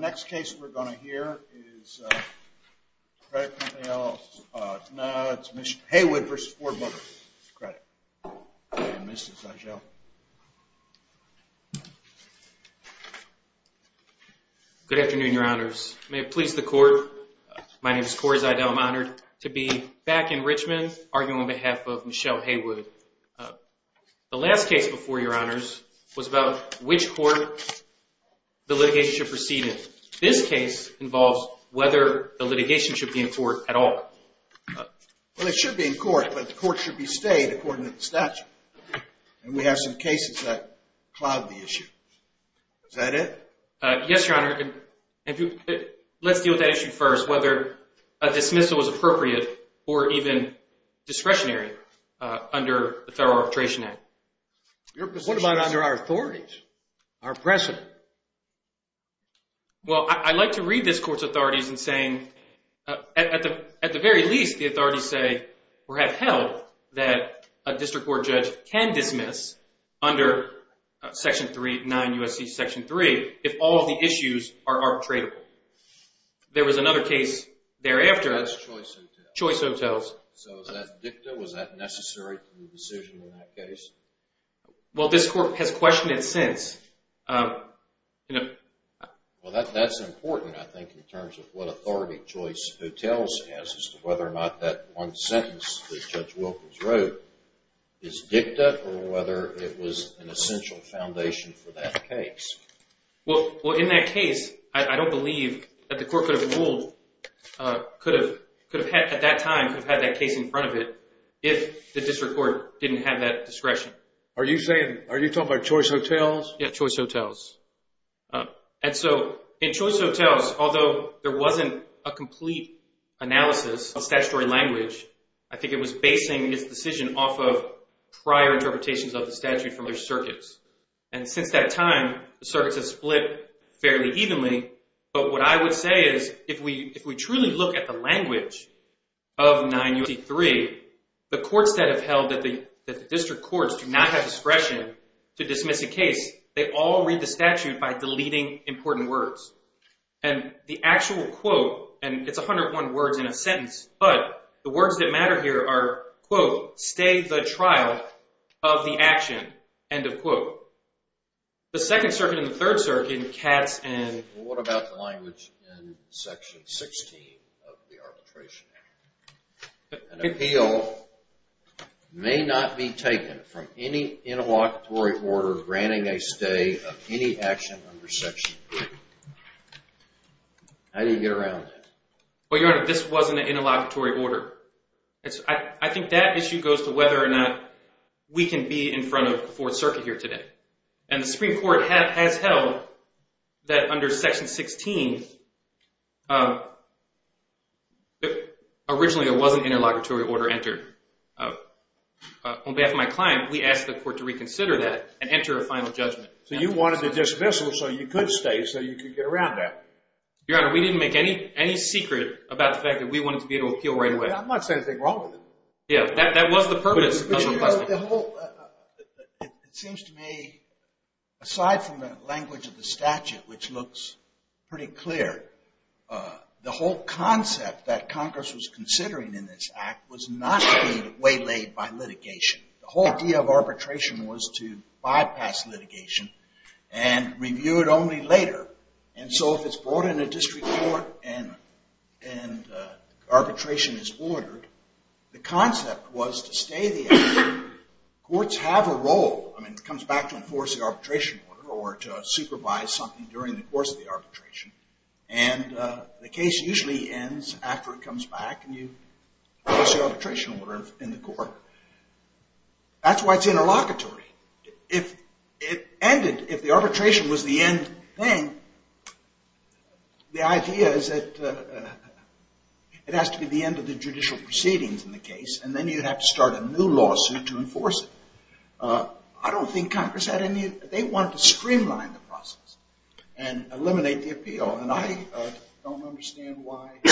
Next case we're going to hear is Haywood v. Ford Motor Credit Company and Mr. Zeigel. Good afternoon, Your Honors. May it please the Court, my name is Corey Zeigel. I'm honored to be back in Richmond arguing on behalf of Michelle Haywood. The last case before, Your Honors, was about which court the litigation should proceed in. This case involves whether the litigation should be in court at all. Well, it should be in court, but the court should be stayed according to the statute. And we have some cases that cloud the issue. Is that it? Yes, Your Honor. Let's deal with that issue first, whether a dismissal is appropriate or even discretionary under the Federal Arbitration Act. What about under our authorities, our precedent? Well, I like to read this Court's authorities in saying, at the very least, the authorities say or have held that a district court judge can dismiss under Section 3, 9 U.S.C. Section 3, if all of the issues are arbitratable. There was another case thereafter. That's Choice Hotels. Choice Hotels. So is that dicta, was that necessary to the decision in that case? Well, this Court has questioned it since. Well, that's important, I think, in terms of what authority Choice Hotels has as to whether or not that one sentence that Judge Wilkins wrote is dicta or whether it was an essential foundation for that case. Well, in that case, I don't believe that the Court could have ruled, could have, at that time, could have had that case in front of it if the district court didn't have that discretion. Are you saying, are you talking about Choice Hotels? Yeah, Choice Hotels. And so in Choice Hotels, although there wasn't a complete analysis of statutory language, I think it was basing its decision off of prior interpretations of the statute from other circuits. And since that time, the circuits have split fairly evenly. But what I would say is, if we truly look at the language of 963, the courts that have held that the district courts do not have discretion to dismiss a case, they all read the statute by deleting important words. And the actual quote, and it's 101 words in a sentence, but the words that matter here are, quote, stay the trial of the action, end of quote. The Second Circuit and the Third Circuit, Katz and… What about the language in Section 16 of the Arbitration Act? An appeal may not be taken from any interlocutory order granting a stay of any action under Section 3. How do you get around that? Well, Your Honor, this wasn't an interlocutory order. I think that issue goes to whether or not we can be in front of the Fourth Circuit here today. And the Supreme Court has held that under Section 16, originally it wasn't an interlocutory order entered. On behalf of my client, we asked the court to reconsider that and enter a final judgment. So you wanted to dismiss it so you could stay, so you could get around that. Your Honor, we didn't make any secret about the fact that we wanted to be able to appeal right away. I'm not saying anything wrong with it. Yeah, that was the purpose. It seems to me, aside from the language of the statute, which looks pretty clear, the whole concept that Congress was considering in this act was not to be waylaid by litigation. The whole idea of arbitration was to bypass litigation and review it only later. And so if it's brought in a district court and arbitration is ordered, the concept was to stay the act. Courts have a role. I mean, it comes back to enforce the arbitration order or to supervise something during the course of the arbitration. And the case usually ends after it comes back. And you place the arbitration order in the court. That's why it's interlocutory. If it ended, if the arbitration was the end thing, the idea is that it has to be the end of the judicial proceedings in the case. And then you'd have to start a new lawsuit to enforce it. I don't think Congress had any – they wanted to streamline the process and eliminate the appeal. And I don't understand why –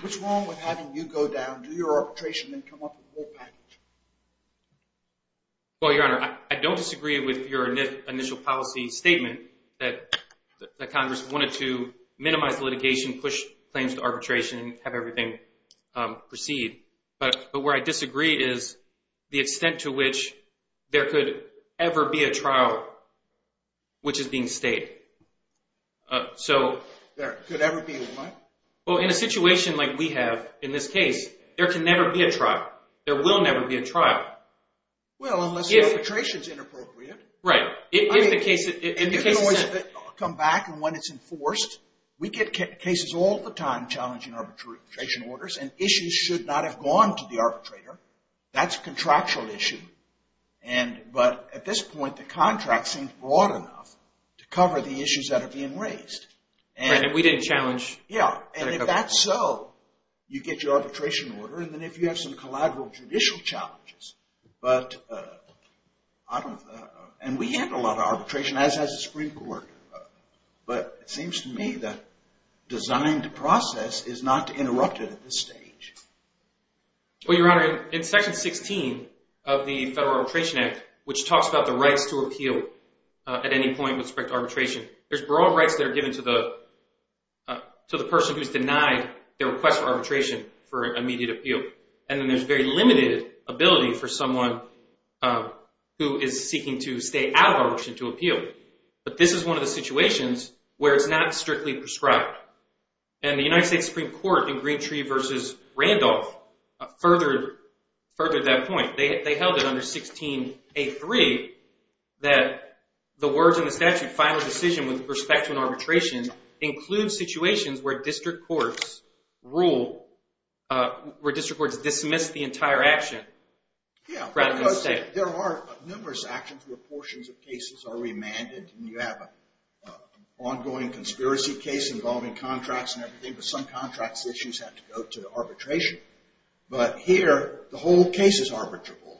what's wrong with having you go down, do your arbitration, and come up with the whole package? Well, Your Honor, I don't disagree with your initial policy statement that Congress wanted to minimize litigation, push claims to arbitration, and have everything proceed. But where I disagree is the extent to which there could ever be a trial which is being stayed. So – There could ever be what? Well, in a situation like we have in this case, there can never be a trial. There will never be a trial. Well, unless the arbitration is inappropriate. Right. If the case – It can always come back. And when it's enforced, we get cases all the time challenging arbitration orders. And issues should not have gone to the arbitrator. That's a contractual issue. And – but at this point, the contract seems broad enough to cover the issues that are being raised. Right. And we didn't challenge – Yeah. And if that's so, you get your arbitration order. And then if you have some collateral judicial challenges, but I don't – and we handle a lot of arbitration. As has the Supreme Court. But it seems to me that designing the process is not interrupted at this stage. Well, Your Honor, in Section 16 of the Federal Arbitration Act, which talks about the rights to appeal at any point with respect to arbitration, there's broad rights that are given to the person who's denied their request for arbitration for immediate appeal. And then there's very limited ability for someone who is seeking to stay out of arbitration to appeal. But this is one of the situations where it's not strictly prescribed. And the United States Supreme Court in Greentree v. Randolph furthered that point. They held it under 16A3 that the words in the statute, final decision with respect to an arbitration, includes situations where district courts rule – where district courts dismiss the entire action rather than stay. Yeah, because there are numerous actions where portions of cases are remanded. And you have an ongoing conspiracy case involving contracts and everything. But some contracts issues have to go to arbitration. But here, the whole case is arbitrable.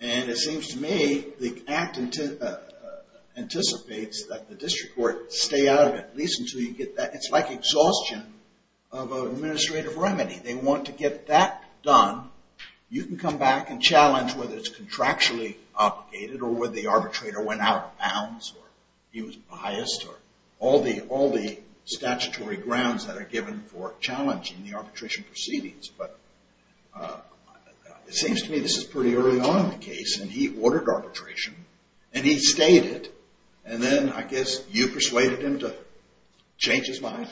And it seems to me the act anticipates that the district court stay out of it, at least until you get that – it's like exhaustion of an administrative remedy. They want to get that done. You can come back and challenge whether it's contractually obligated or whether the arbitrator went out of bounds or he was biased or all the statutory grounds that are given for challenging the arbitration proceedings. But it seems to me this is pretty early on in the case. And he ordered arbitration. And he stayed it. And then I guess you persuaded him to change his mind.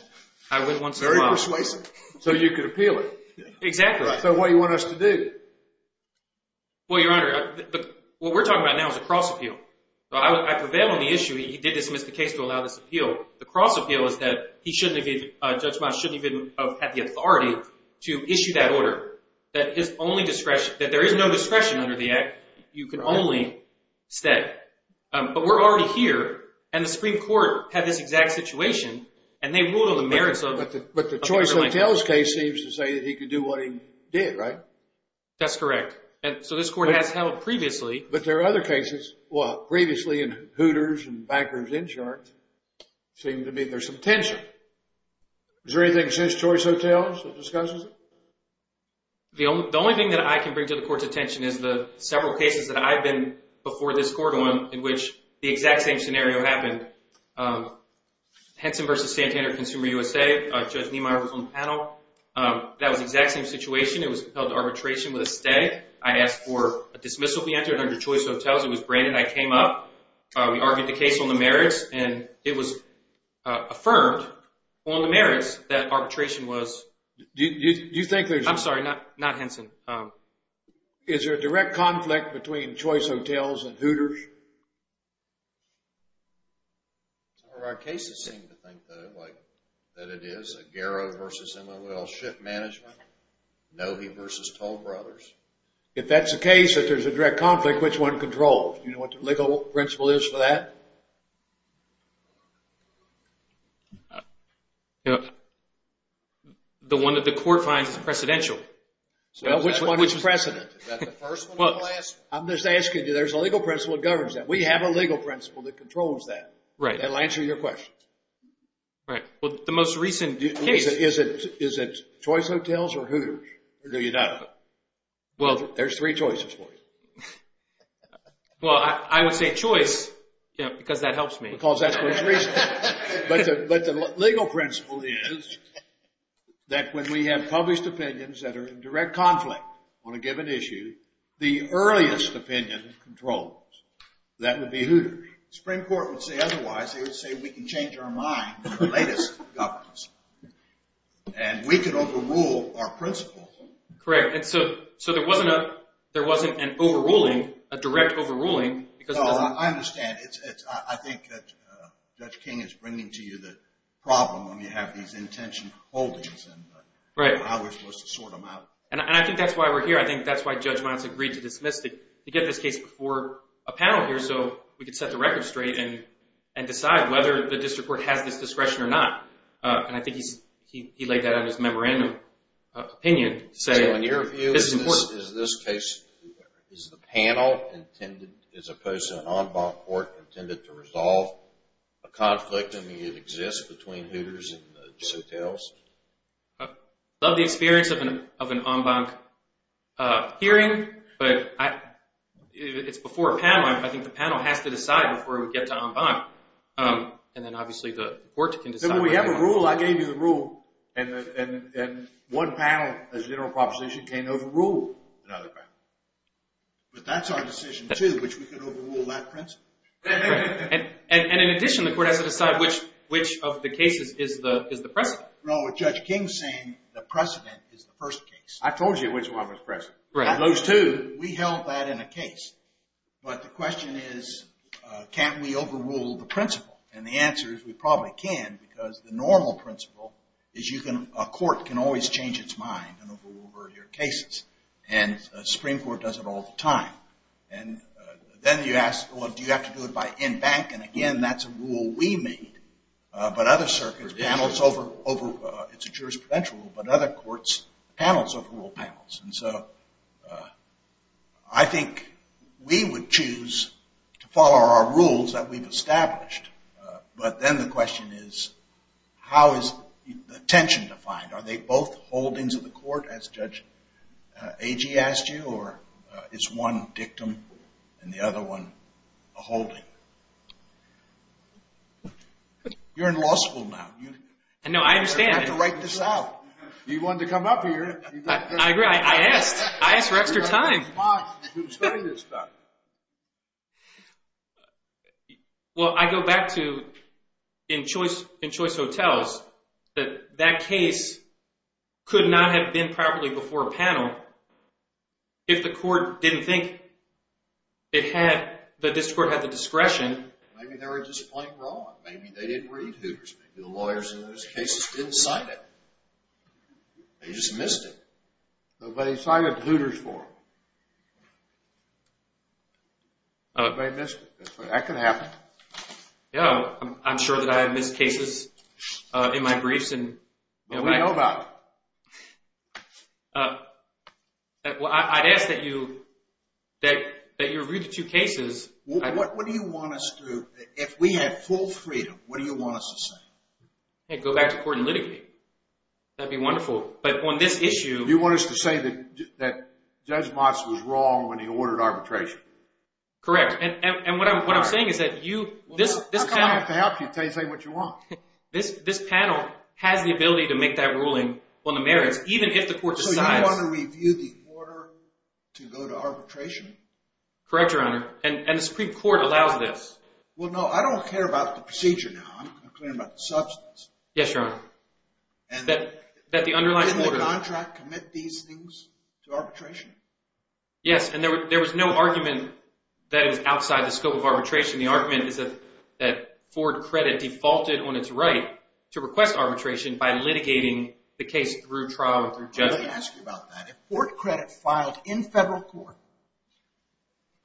I would once in a while. Very persuasive. So you could appeal it. Exactly. So what do you want us to do? Well, Your Honor, what we're talking about now is a cross-appeal. So I prevailed on the issue. He did dismiss the case to allow this appeal. The cross-appeal is that he shouldn't have even – Judge Miles shouldn't have even had the authority to issue that order. That his only discretion – that there is no discretion under the act. You can only stay. But we're already here. And the Supreme Court had this exact situation. And they ruled on the merits of – But the choice hotels case seems to say that he could do what he did, right? That's correct. And so this court has held previously. But there are other cases. Well, previously in Hooters and Backers Inchart seemed to be there's some tension. Is there anything since choice hotels that discusses it? The only thing that I can bring to the court's attention is the several cases that I've been before this court on in which the exact same scenario happened. Henson v. Santander, Consumer USA. Judge Niemeyer was on the panel. That was the exact same situation. It was compelled to arbitration with a stay. I asked for a dismissal. We entered under choice hotels. It was Brandon. I came up. We argued the case on the merits. And it was affirmed on the merits that arbitration was – Do you think there's – I'm sorry. Not Henson. Is there a direct conflict between choice hotels and Hooters? Some of our cases seem to think that it is. Aguero v. MOL Ship Management. Novy v. Toll Brothers. If that's the case that there's a direct conflict, which one controls? Do you know what the legal principle is for that? The one that the court finds is precedential. Which one is precedent? Is that the first one? I'm just asking you. There's a legal principle that governs that. We have a legal principle that controls that. That'll answer your question. Right. Well, the most recent case – Is it choice hotels or Hooters? Or do you know? There's three choices for you. Well, I would say choice because that helps me. Because that's the most recent. But the legal principle is that when we have published opinions that are in direct conflict on a given issue, the earliest opinion controls. That would be Hooters. The Supreme Court would say otherwise. They would say we can change our mind on the latest governance. And we could overrule our principle. Correct. So there wasn't an overruling, a direct overruling. No, I understand. I think that Judge King is bringing to you the problem when you have these intention holdings and how we're supposed to sort them out. And I think that's why we're here. I think that's why Judge Mons agreed to dismiss to get this case before a panel here so we could set the record straight and decide whether the district court has this discretion or not. And I think he laid that out in his memorandum opinion to say it's important. So in your view, is this case – is the panel intended, as opposed to an en banc court, intended to resolve a conflict that may have existed between Hooters and the hotels? I love the experience of an en banc hearing, but it's before a panel. I think the panel has to decide before we get to en banc. And then obviously the court can decide. Then we have a rule. I gave you the rule. And one panel, as a general proposition, can't overrule another panel. But that's our decision, too, which we can overrule that principle. And in addition, the court has to decide which of the cases is the precedent. What's wrong with Judge King saying the precedent is the first case? I told you which one was precedent. Those two. We held that in a case. But the question is can't we overrule the principle? And the answer is we probably can because the normal principle is a court can always change its mind and overrule earlier cases. And the Supreme Court does it all the time. And then you ask, well, do you have to do it by en banc? And again, that's a rule we made. But other circuits, it's a jurisprudential rule, but other courts, panels overrule panels. And so I think we would choose to follow our rules that we've established. But then the question is how is the attention defined? Are they both holdings of the court, as Judge Agee asked you, or is one dictum and the other one a holding? You're in law school now. I know. I understand. You're going to have to write this out. You wanted to come up here. I agree. I asked. I asked for extra time. Well, I go back to in choice hotels that that case could not have been properly before a panel if the court didn't think that this court had the discretion. Maybe they were just playing wrong. Maybe they didn't read Hooters. Maybe the lawyers in those cases didn't cite it. They just missed it. Nobody cited Hooters for them. Nobody missed it. That could happen. I'm sure that I have missed cases in my briefs. What do you know about it? I'd ask that you review the two cases. What do you want us to do? If we had full freedom, what do you want us to say? Go back to court and litigate. That would be wonderful. But on this issue- You want us to say that Judge Motz was wrong when he ordered arbitration. Correct. What I'm saying is that you- I'm going to have to help you until you say what you want. This panel has the ability to make that ruling on the merits, even if the court decides- So you want to review the order to go to arbitration? Correct, Your Honor. And the Supreme Court allows this. Well, no, I don't care about the procedure now. I'm concerned about the substance. Yes, Your Honor. Didn't the contract commit these things to arbitration? Yes, and there was no argument that it was outside the scope of arbitration. The argument is that Ford Credit defaulted on its right to request arbitration by litigating the case through trial and through judgment. Let me ask you about that. If Ford Credit filed in federal court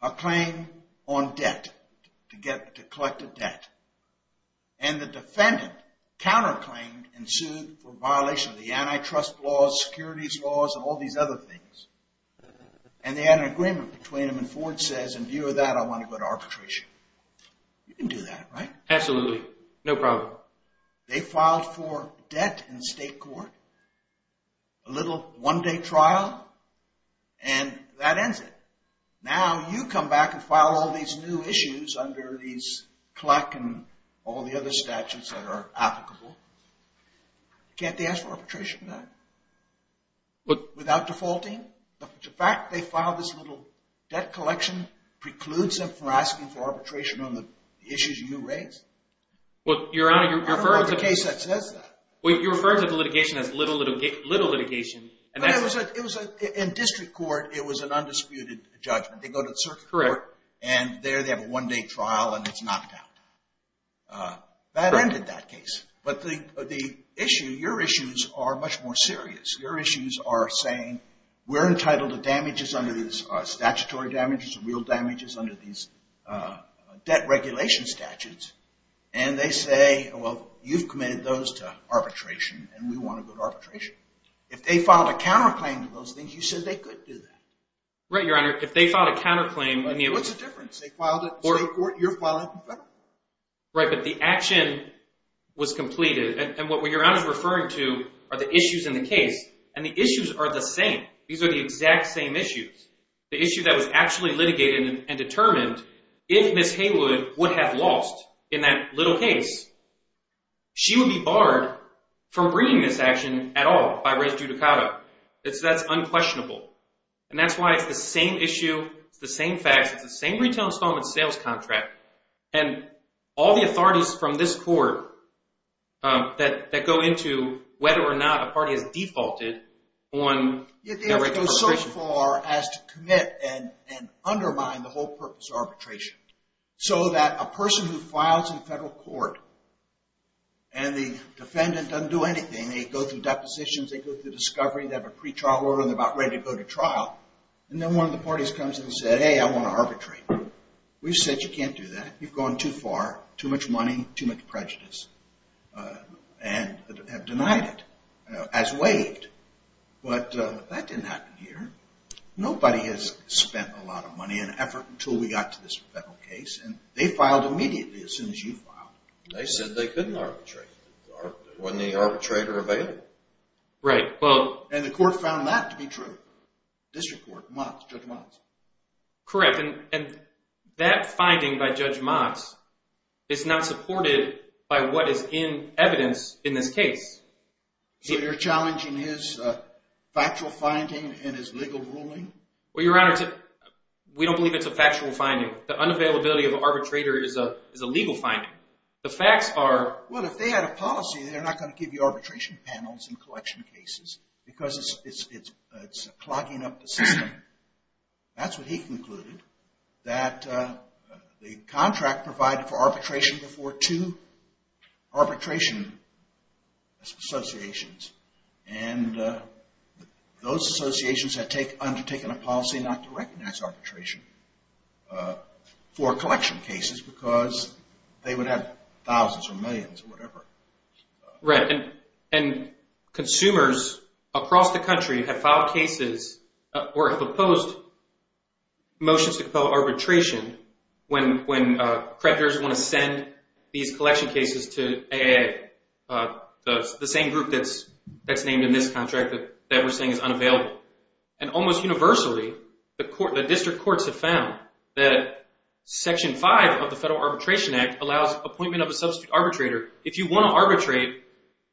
a claim on debt, to collect a debt, and the defendant counterclaimed and sued for violation of the antitrust laws, securities laws, and all these other things, and they had an agreement between them, and Ford says, in view of that, I want to go to arbitration. You can do that, right? Absolutely. No problem. They filed for debt in state court, a little one-day trial, and that ends it. Now you come back and file all these new issues under these CLEC and all the other statutes that are applicable. Can't they ask for arbitration then? Without defaulting? The fact they filed this little debt collection precludes them from asking for arbitration on the issues you raised? I don't know of a case that says that. You're referring to the litigation as little litigation. In district court, it was an undisputed judgment. They go to the circuit court, and there they have a one-day trial, and it's knocked out. That ended that case. But your issues are much more serious. Your issues are saying we're entitled to damages under these statutory damages, real damages under these debt regulation statutes, and they say, well, you've committed those to arbitration, and we want to go to arbitration. If they filed a counterclaim to those things, you said they could do that. Right, Your Honor. If they filed a counterclaim, I mean it was— What's the difference? They filed it in state court. You're filing it in federal court. Right, but the action was completed. And what Your Honor is referring to are the issues in the case, and the issues are the same. These are the exact same issues. The issue that was actually litigated and determined, if Ms. Haywood would have lost in that little case, she would be barred from bringing this action at all by res judicata. That's unquestionable. And that's why it's the same issue, it's the same facts, it's the same retail installment sales contract. And all the authorities from this court that go into whether or not a party has defaulted on— Yet they have to go so far as to commit and undermine the whole purpose of arbitration, so that a person who files in federal court and the defendant doesn't do anything, they go through depositions, they go through discovery, they have a pretrial order, and they're about ready to go to trial. And then one of the parties comes in and says, hey, I want to arbitrate. We've said you can't do that. You've gone too far, too much money, too much prejudice, and have denied it as waived. But that didn't happen here. Nobody has spent a lot of money and effort until we got to this federal case, and they filed immediately as soon as you filed. They said they couldn't arbitrate. Wasn't any arbitrator available? Right, well— And the court found that to be true. District court, judge Miles. Correct, and that finding by Judge Miles is not supported by what is in evidence in this case. So you're challenging his factual finding and his legal ruling? Well, Your Honor, we don't believe it's a factual finding. The unavailability of an arbitrator is a legal finding. The facts are— Well, if they had a policy, they're not going to give you arbitration panels in collection cases because it's clogging up the system. That's what he concluded, that the contract provided for arbitration before two arbitration associations, and those associations had undertaken a policy not to recognize arbitration for collection cases because they would have thousands or millions or whatever. Right, and consumers across the country have filed cases or have opposed motions to compel arbitration when creditors want to send these collection cases to AA, the same group that's named in this contract that we're saying is unavailable. And almost universally, the district courts have found that Section 5 of the Federal Arbitration Act allows appointment of a substitute arbitrator. If you want to arbitrate,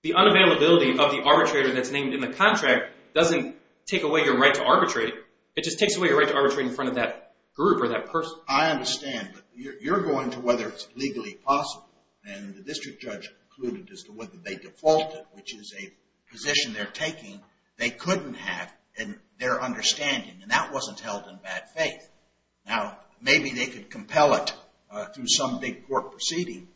the unavailability of the arbitrator that's named in the contract doesn't take away your right to arbitrate. It just takes away your right to arbitrate in front of that group or that person. I understand, but you're going to whether it's legally possible, and the district judge concluded as to whether they defaulted, which is a position they're taking they couldn't have in their understanding, and that wasn't held in bad faith. Now, maybe they could compel it through some big court proceeding,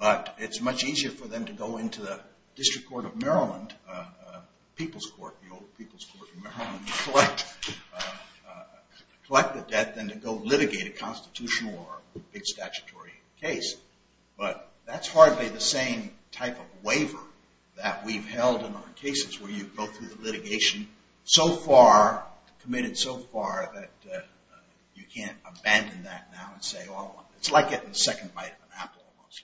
but it's much easier for them to go into the district court of Maryland, the old people's court in Maryland, and collect the debt than to go litigate a constitutional or a big statutory case. But that's hardly the same type of waiver that we've held in our cases where you go through the litigation so far, committed so far, that you can't abandon that now and say, oh, it's like getting the second bite of an apple almost.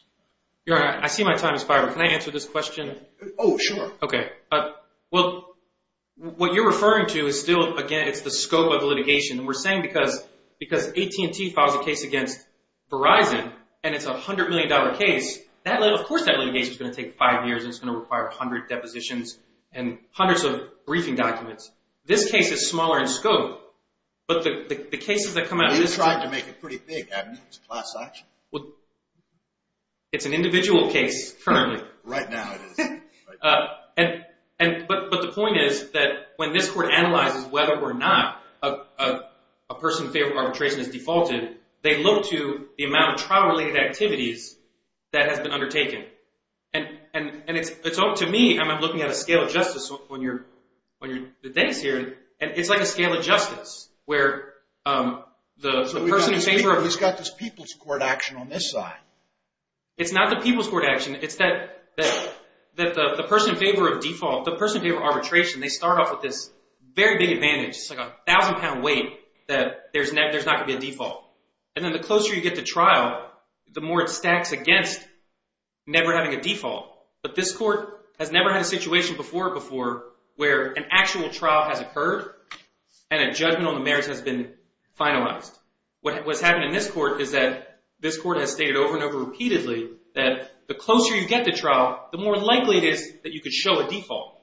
Your Honor, I see my time is fired, but can I answer this question? Oh, sure. Okay. Well, what you're referring to is still, again, it's the scope of the litigation, and we're saying because AT&T files a case against Verizon, and it's a $100 million case, of course that litigation is going to take five years, and it's going to require 100 depositions and hundreds of briefing documents. This case is smaller in scope, but the cases that come out of this trial. Well, you tried to make it pretty big. I mean, it's a class action. Well, it's an individual case currently. Right now it is. But the point is that when this court analyzes whether or not a person in favor of arbitration is defaulted, they look to the amount of trial-related activities that has been undertaken. And to me, I'm looking at a scale of justice on the days here, and it's like a scale of justice where the person in favor of… So we've got this people's court action on this side. It's not the people's court action. It's that the person in favor of default, the person in favor of arbitration, they start off with this very big advantage. It's like a thousand-pound weight that there's not going to be a default. And then the closer you get to trial, the more it stacks against never having a default. But this court has never had a situation before or before where an actual trial has occurred and a judgment on the merits has been finalized. What has happened in this court is that this court has stated over and over repeatedly that the closer you get to trial, the more likely it is that you could show a default.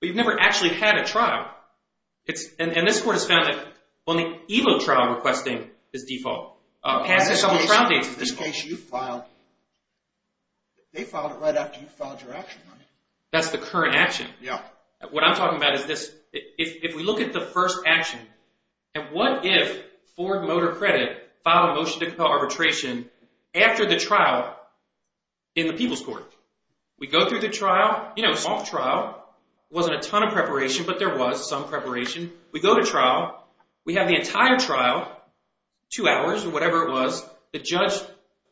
But you've never actually had a trial. And this court has found that only Evo trial requesting is default. Passing several trial dates is default. In this case, you filed. They filed it right after you filed your action on it. That's the current action. Yeah. What I'm talking about is this. If we look at the first action, and what if Ford Motor Credit filed a motion to compel arbitration after the trial in the people's court? We go through the trial. You know, soft trial. It wasn't a ton of preparation, but there was some preparation. We go to trial. We have the entire trial, two hours or whatever it was. The judge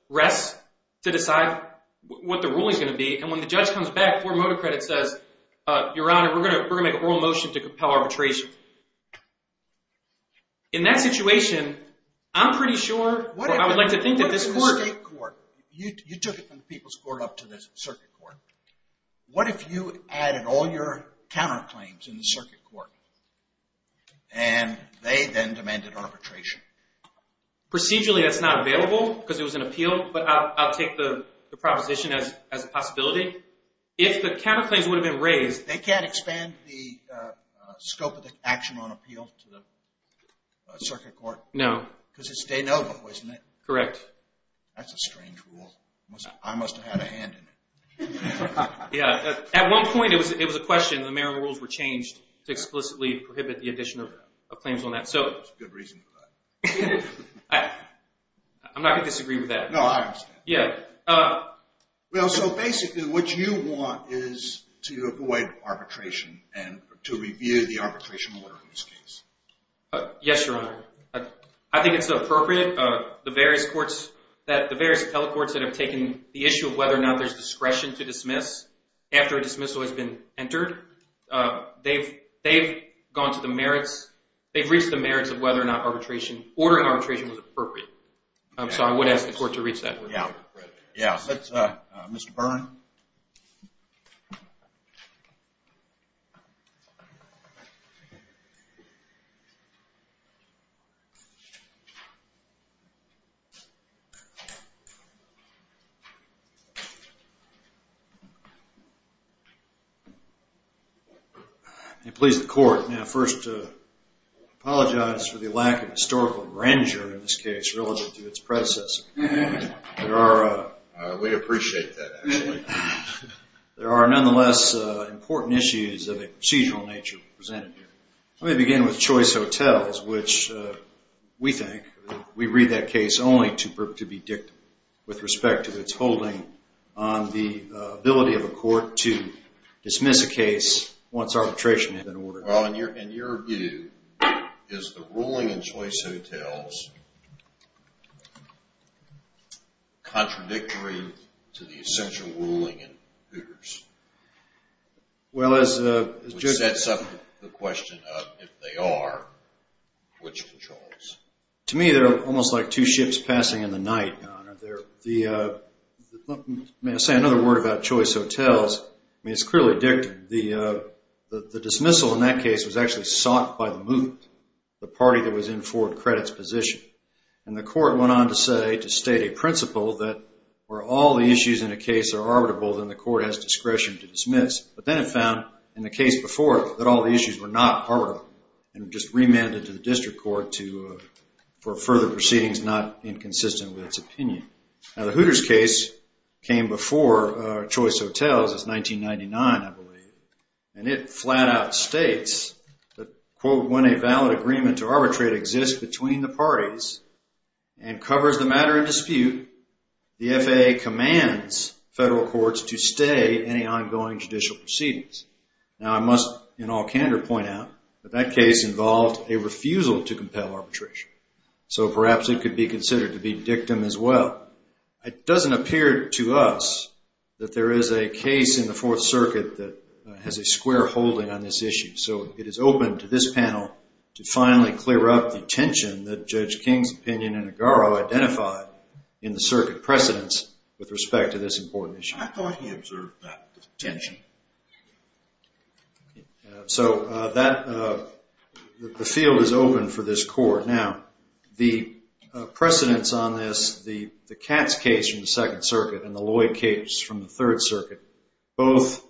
rests to decide what the ruling is going to be. And when the judge comes back, Ford Motor Credit says, Your Honor, we're going to make an oral motion to compel arbitration. In that situation, I'm pretty sure or I would like to think that this court— What is the circuit court? You took it from the people's court up to the circuit court. What if you added all your counterclaims in the circuit court, and they then demanded arbitration? Procedurally, that's not available because it was an appeal, but I'll take the proposition as a possibility. If the counterclaims would have been raised— They can't expand the scope of the action on appeal to the circuit court? No. Because it's de novo, isn't it? Correct. That's a strange rule. I must have had a hand in it. Yeah. At one point, it was a question. The Maryland rules were changed to explicitly prohibit the addition of claims on that. That's a good reason for that. I'm not going to disagree with that. No, I understand. Yeah. Well, so basically, what you want is to avoid arbitration and to review the arbitration order in this case. Yes, Your Honor. I think it's appropriate. The various telecourts that have taken the issue of whether or not there's discretion to dismiss after a dismissal has been entered, they've reached the merits of whether or not ordering arbitration was appropriate. So I would ask the court to reach that. Yeah. Mr. Byrne? Thank you. May it please the court, may I first apologize for the lack of historical grandeur in this case relative to its predecessor. We appreciate that, actually. There are nonetheless important issues of a procedural nature presented here. Let me begin with Choice Hotels, which we think we read that case only to be dictated with respect to its holding on the ability of a court to dismiss a case once arbitration has been ordered. Well, in your view, is the ruling in Choice Hotels contradictory to the essential ruling in Hooters? Which sets up the question of if they are, which controls? To me, they're almost like two ships passing in the night, Your Honor. May I say another word about Choice Hotels? I mean, it's clearly dictated. The dismissal in that case was actually sought by the moot, the party that was in Ford Credit's position. And the court went on to say, to state a principle, that where all the issues in a case are arbitrable, then the court has discretion to dismiss. But then it found, in the case before, that all the issues were not arbitrable and just remanded to the district court for further proceedings not inconsistent with its opinion. Now, the Hooters case came before Choice Hotels. It's 1999, I believe. And it flat out states that, quote, when a valid agreement to arbitrate exists between the parties and covers the matter in dispute, the FAA commands federal courts to stay any ongoing judicial proceedings. Now, I must, in all candor, point out that that case involved a refusal to compel arbitration. So perhaps it could be considered to be dictum as well. It doesn't appear to us that there is a case in the Fourth Circuit that has a square holding on this issue. So it is open to this panel to finally clear up the tension that Judge King's opinion in Aguero identified in the circuit precedents with respect to this important issue. I thought he observed that tension. So the field is open for this court. Now, the precedents on this, the Katz case from the Second Circuit and the Lloyd case from the Third Circuit, both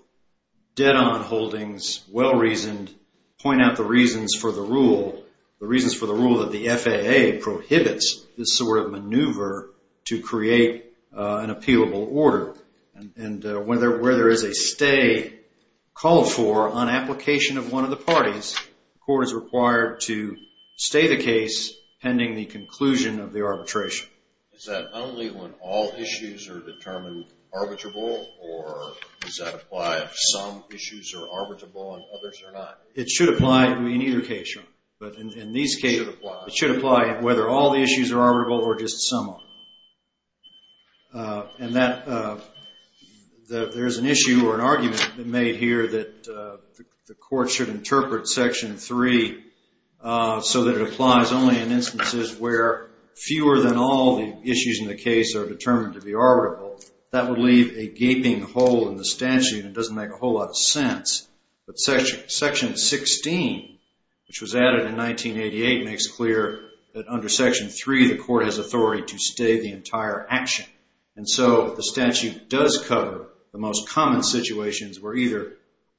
dead-on holdings, well-reasoned, point out the reasons for the rule, the reasons for the rule that the FAA prohibits this sort of maneuver to create an appealable order. And where there is a stay called for on application of one of the parties, the court is required to stay the case pending the conclusion of the arbitration. Is that only when all issues are determined arbitrable, or does that apply if some issues are arbitrable and others are not? It should apply in either case. It should apply whether all the issues are arbitrable or just some are. And there is an issue or an argument made here that the court should interpret Section 3 so that it applies only in instances where fewer than all the issues in the case are determined to be arbitrable. That would leave a gaping hole in the statute. It doesn't make a whole lot of sense. But Section 16, which was added in 1988, makes clear that under Section 3 the court has authority to stay the entire action. And so the statute does cover the most common situations where either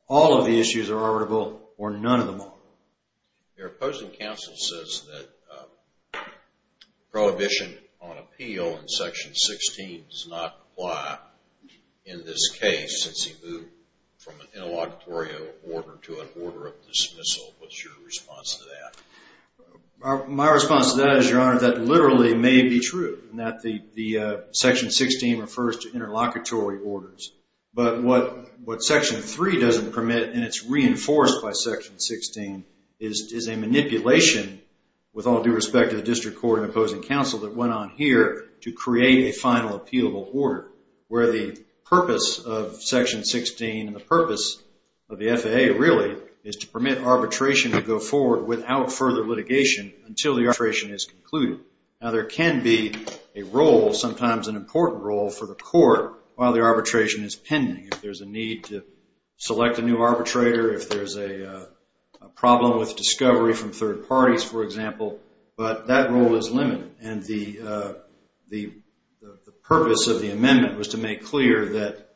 all of the issues are arbitrable or none of them are. Your opposing counsel says that prohibition on appeal in Section 16 does not apply in this case since he moved from an interlocutory order to an order of dismissal. What's your response to that? My response to that is, Your Honor, that literally may be true, in that the Section 16 refers to interlocutory orders. But what Section 3 doesn't permit and it's reinforced by Section 16 is a manipulation with all due respect to the district court and opposing counsel that went on here to create a final appealable order where the purpose of Section 16 and the purpose of the FAA really is to permit arbitration to go forward without further litigation until the arbitration is concluded. Now there can be a role, sometimes an important role, for the court while the arbitration is pending. If there's a need to select a new arbitrator, if there's a problem with discovery from third parties, for example, but that role is limited. And the purpose of the amendment was to make clear that,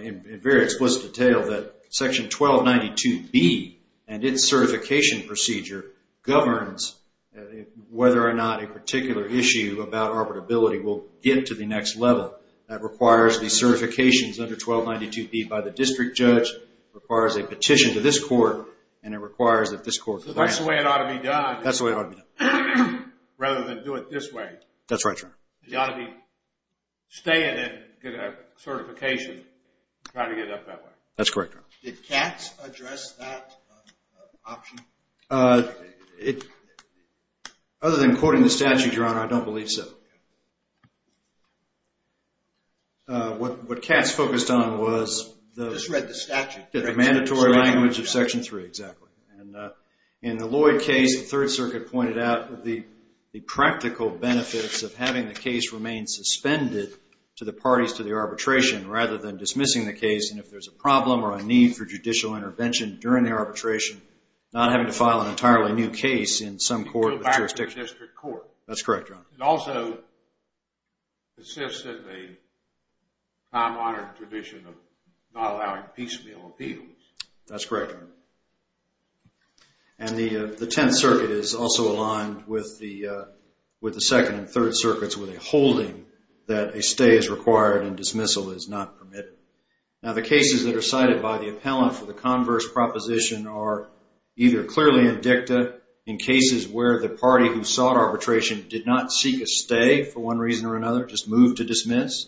in very explicit detail, that Section 1292B and its certification procedure governs whether or not a particular issue about arbitrability will get to the next level. That requires the certifications under 1292B by the district judge, requires a petition to this court, and it requires that this court That's the way it ought to be done. That's the way it ought to be done. Rather than do it this way. That's right, Your Honor. You ought to be staying and get a certification to try to get it up that way. That's correct, Your Honor. Did Katz address that option? Other than quoting the statute, Your Honor, I don't believe so. What Katz focused on was the mandatory language of Section 3, exactly. In the Lloyd case, the Third Circuit pointed out the practical benefits of having the case remain suspended to the parties to the arbitration rather than dismissing the case, and if there's a problem or a need for judicial intervention during the arbitration, not having to file an entirely new case in some court or jurisdiction. Go back to the district court. That's correct, Your Honor. It also persists in the time-honored tradition of not allowing piecemeal appeals. That's correct, Your Honor. And the Tenth Circuit is also aligned with the Second and Third Circuits with a holding that a stay is required and dismissal is not permitted. Now, the cases that are cited by the appellant for the converse proposition are either clearly indicted in cases where the party who sought arbitration did not seek a stay for one reason or another, just moved to dismiss,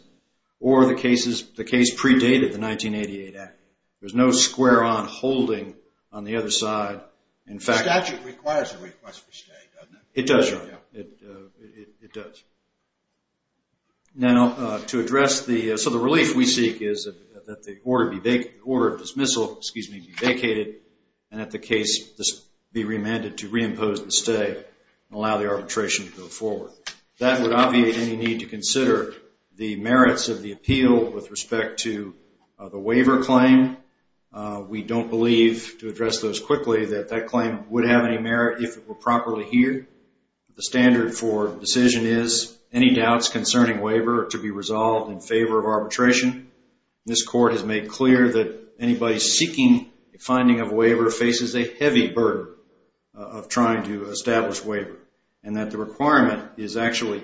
or the case predated the 1988 Act. There's no square on holding on the other side. The statute requires a request for stay, doesn't it? It does, Your Honor. It does. Now, to address the relief we seek is that the order of dismissal be vacated and that the case be remanded to reimpose the stay and allow the arbitration to go forward. That would obviate any need to consider the merits of the appeal with respect to the waiver claim. We don't believe, to address those quickly, that that claim would have any merit if it were properly heared. The standard for decision is any doubts concerning waiver are to be resolved in favor of arbitration. This Court has made clear that anybody seeking a finding of waiver faces a heavy burden of trying to establish waiver and that the requirement is actual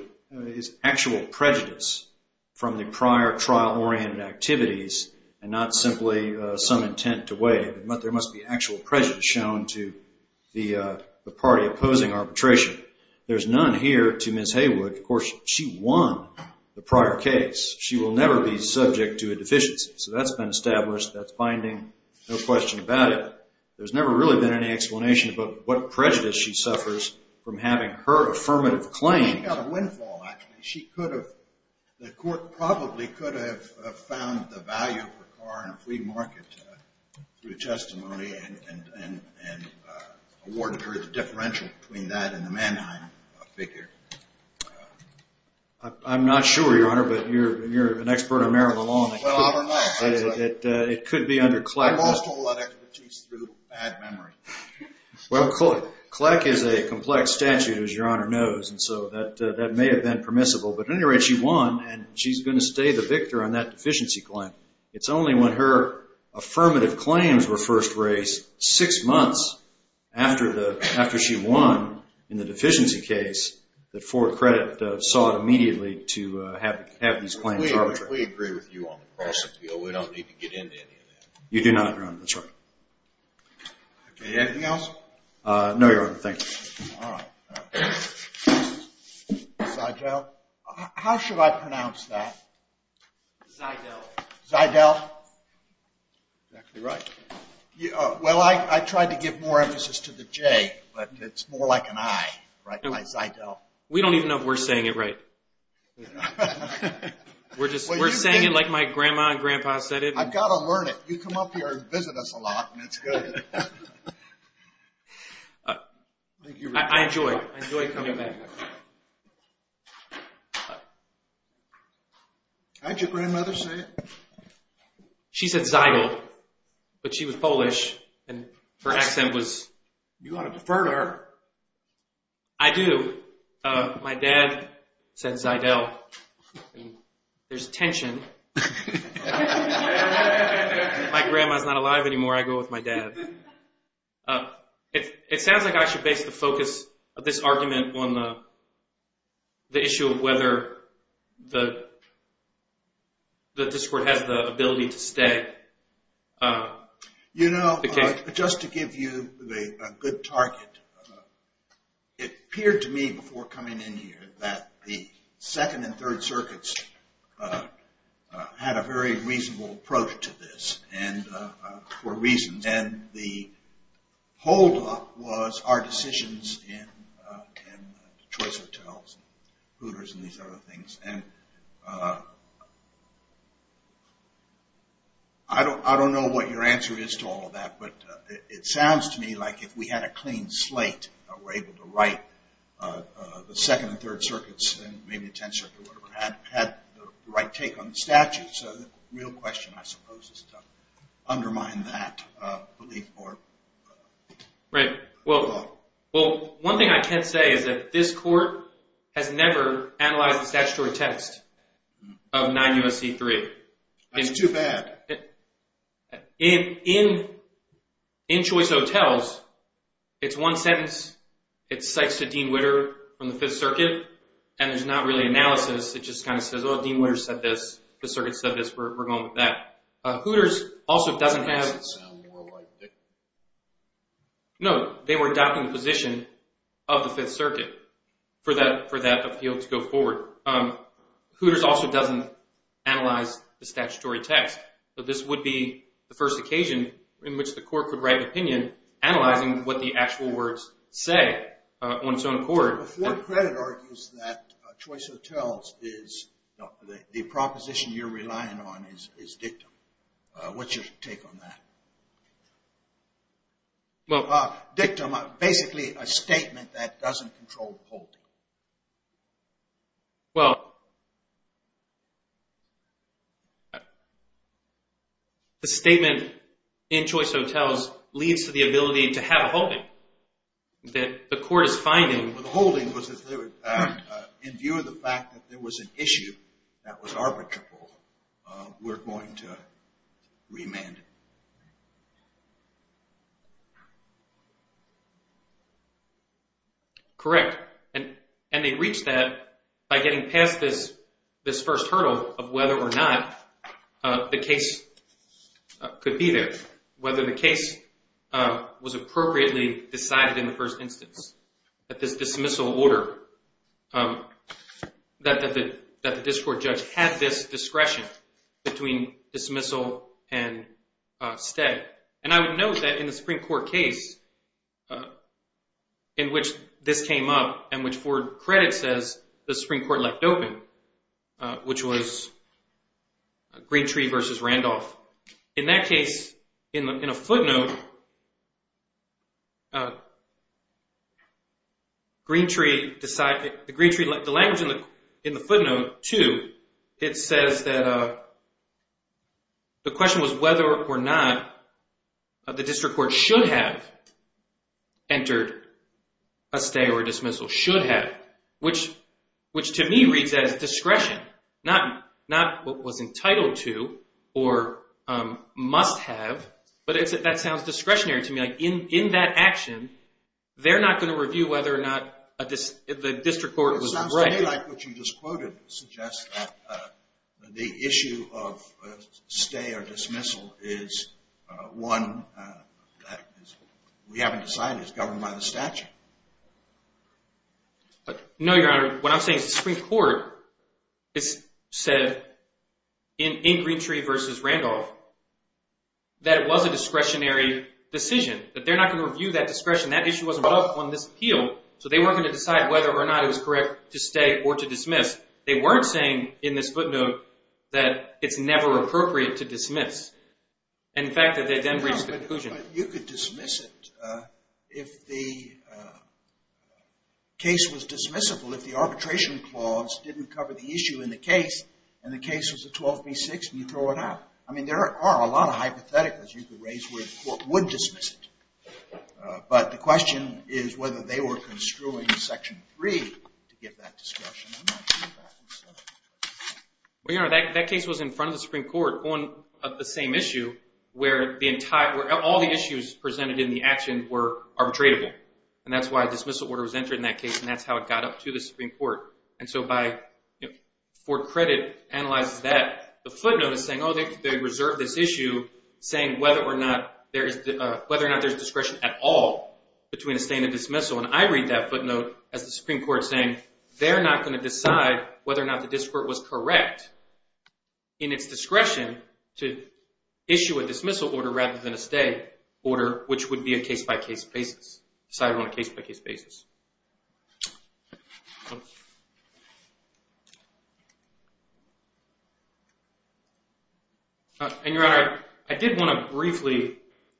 prejudice from the prior trial-oriented activities and not simply some intent to wait. There must be actual prejudice shown to the party opposing arbitration. There's none here to Ms. Haywood. Of course, she won the prior case. She will never be subject to a deficiency. So that's been established. That's binding. No question about it. There's never really been any explanation about what prejudice she suffers from having her affirmative claim. She got a windfall, actually. The Court probably could have found the value of her car in a flea market through testimony and awarded her the differential between that and the Mannheim figure. I'm not sure, Your Honor, but you're an expert on marital law and it could be under CLEC. I lost all that expertise through bad memory. Well, CLEC is a complex statute, as Your Honor knows, and so that may have been permissible. But at any rate, she won, and she's going to stay the victor on that deficiency claim. It's only when her affirmative claims were first raised six months after she won in the deficiency case that Fort Credit sought immediately to have these claims arbitrated. We agree with you on the cross appeal. We don't need to get into any of that. You do not, Your Honor. That's right. Anything else? No, Your Honor. Thank you. All right. Zydell. How should I pronounce that? Zydell. Zydell. Exactly right. Well, I tried to give more emphasis to the J, but it's more like an I, right? Zydell. We don't even know if we're saying it right. We're saying it like my grandma and grandpa said it. I've got to learn it. You come up here and visit us a lot, and it's good. I enjoy it. I enjoy coming back. Didn't your grandmother say it? She said Zydell, but she was Polish, and her accent was… You ought to defer to her. I do. My dad said Zydell. There's tension. My grandma's not alive anymore. I go with my dad. It sounds like I should base the focus of this argument on the issue of whether the district has the ability to stay. You know, just to give you a good target, it appeared to me before coming in here that the Second and Third Circuits had a very reasonable approach to this for reasons, and the holdup was our decisions in Detroit's hotels and Hooters and these other things, and I don't know what your answer is to all of that, but it sounds to me like if we had a clean slate, we're able to write the Second and Third Circuits and maybe the Tenth Circuit, or whatever, had the right take on the statute. So the real question, I suppose, is to undermine that belief or holdup. Well, one thing I can say is that this Court has never analyzed the statutory text of 9 U.S.C. 3. That's too bad. In Choice Hotels, it's one sentence. It cites to Dean Witter from the Fifth Circuit, and there's not really analysis. It just kind of says, oh, Dean Witter said this. The Circuit said this. We're going with that. Hooters also doesn't have… It doesn't sound more like it. No, they were adopting the position of the Fifth Circuit for that appeal to go forward. Hooters also doesn't analyze the statutory text. So this would be the first occasion in which the Court could write an opinion, analyzing what the actual words say on its own court. The Fourth Credit argues that Choice Hotels is the proposition you're relying on is dictum. What's your take on that? Well… Dictum, basically a statement that doesn't control holding. Well… The statement in Choice Hotels leads to the ability to have a holding that the Court is finding. The holding was in view of the fact that there was an issue that was arbitrable. We're going to remand it. Correct. And they reached that by getting past this first hurdle of whether or not the case could be there, whether the case was appropriately decided in the first instance, that this dismissal order, that the district judge had this discretion between dismissal and stay. And I would note that in the Supreme Court case in which this came up and which Fourth Credit says the Supreme Court let open, which was Greentree versus Randolph, in that case, in a footnote, Greentree, the language in the footnote too, it says that the question was whether or not the district court should have entered a stay or dismissal, should have, which to me reads as discretion, not what was entitled to or must have, but that sounds discretionary to me. In that action, they're not going to review whether or not the district court was right. It sounds to me like what you just quoted suggests that the issue of stay or dismissal is one that we haven't decided. It's governed by the statute. No, Your Honor. What I'm saying is the Supreme Court said in Greentree versus Randolph that it was a discretionary decision, that they're not going to review that discretion. That issue wasn't brought up on this appeal. So they weren't going to decide whether or not it was correct to stay or to dismiss. They weren't saying in this footnote that it's never appropriate to dismiss. You could dismiss it if the case was dismissible, if the arbitration clause didn't cover the issue in the case and the case was a 12 v. 6 and you throw it out. I mean, there are a lot of hypotheticals you could raise where the court would dismiss it. But the question is whether they were construing Section 3 to give that discretion. Well, Your Honor, that case was in front of the Supreme Court on the same issue where all the issues presented in the action were arbitratable. And that's why a dismissal order was entered in that case, and that's how it got up to the Supreme Court. And so Ford Credit analyzes that. The footnote is saying, oh, they reserved this issue saying whether or not there's discretion at all between a stay and a dismissal. And I read that footnote as the Supreme Court saying they're not going to decide whether or not the district was correct in its discretion to issue a dismissal order rather than a stay order, which would be a case-by-case basis, decided on a case-by-case basis. And, Your Honor, I did want to briefly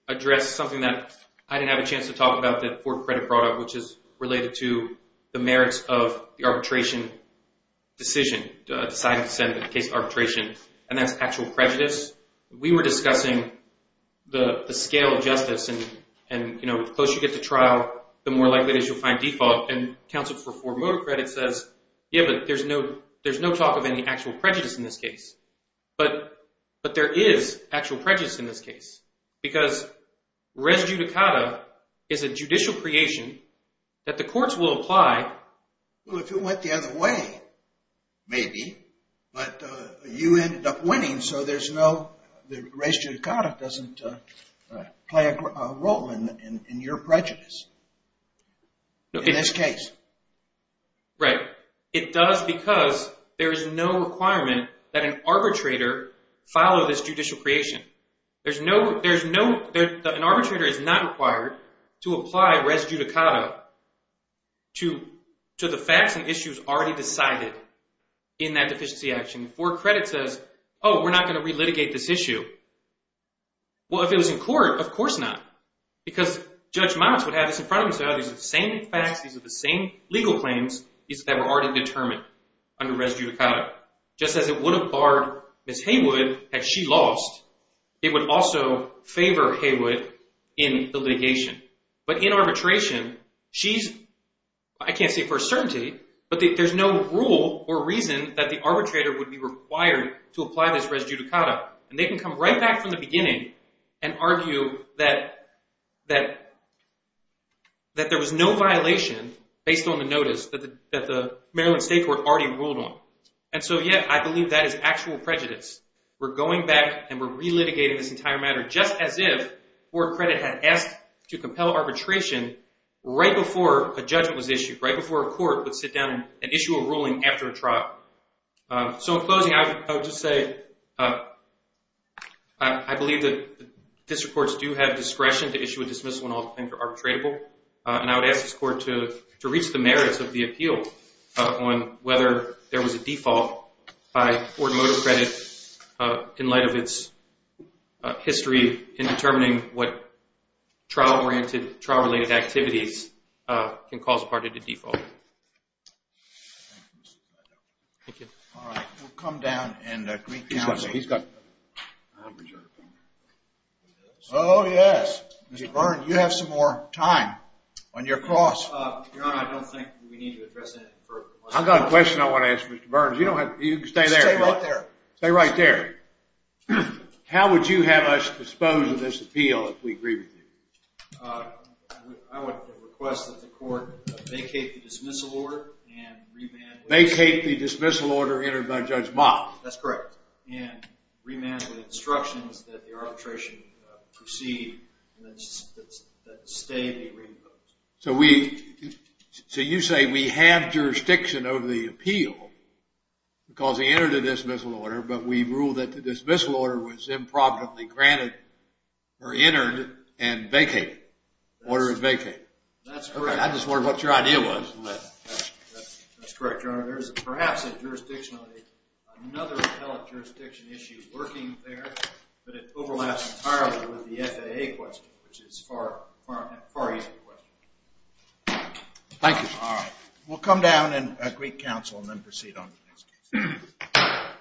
address something that I didn't have a chance to talk about that Ford Credit brought up, which is related to the merits of the arbitration decision, deciding to send the case to arbitration, and that's actual prejudice. We were discussing the scale of justice, and the closer you get to trial, the more likely it is you'll find default. And counsel for Ford Credit says, yeah, but there's no talk of any actual prejudice in this case. But there is actual prejudice in this case because res judicata is a judicial creation that the courts will apply. Well, if it went the other way, maybe. But you ended up winning, so there's no res judicata doesn't play a role in your prejudice in this case. Right. It does because there is no requirement that an arbitrator follow this judicial creation. There's no – an arbitrator is not required to apply res judicata to the facts and issues already decided in that deficiency action. Ford Credit says, oh, we're not going to re-litigate this issue. Well, if it was in court, of course not, because Judge Motz would have this in front of him and say, oh, these are the same facts, these are the same legal claims that were already determined under res judicata. Just as it would have barred Ms. Haywood had she lost, it would also favor Haywood in the litigation. But in arbitration, she's – I can't say for a certainty, but there's no rule or reason that the arbitrator would be required to apply this res judicata. And they can come right back from the beginning and argue that there was no violation based on the notice that the Maryland State Court already ruled on. And so, yeah, I believe that is actual prejudice. We're going back and we're re-litigating this entire matter just as if Ford Credit had asked to compel arbitration right before a judgment was issued, right before a court would sit down and issue a ruling after a trial. So in closing, I would just say I believe that district courts do have discretion to issue a dismissal when all things are arbitratable. And I would ask this court to reach the merits of the appeal on whether there was a default by Ford Motor Credit in light of its history in determining what trial-oriented, trial-related activities can cause a party to default. Thank you. All right. We'll come down and – He's got – he's got – Oh, yes. Mr. Burns, you have some more time on your cross. Your Honor, I don't think we need to address that. I've got a question I want to ask Mr. Burns. You don't have – you can stay there. Stay right there. Stay right there. How would you have us dispose of this appeal if we agree with you? I would request that the court vacate the dismissal order and remand – Vacate the dismissal order entered by Judge Mott. That's correct. And remand with instructions that the arbitration proceed and that the stay be reimposed. So we – so you say we have jurisdiction over the appeal because he entered a dismissal order, but we ruled that the dismissal order was improperly granted or entered and vacated. Order is vacated. That's correct. Okay. I just wondered what your idea was. That's correct, Your Honor. There is perhaps a jurisdiction on another appellate jurisdiction issue working there, but it overlaps entirely with the FAA question, which is a far easier question. Thank you. All right. We'll come down and agree counsel and then proceed on the next case.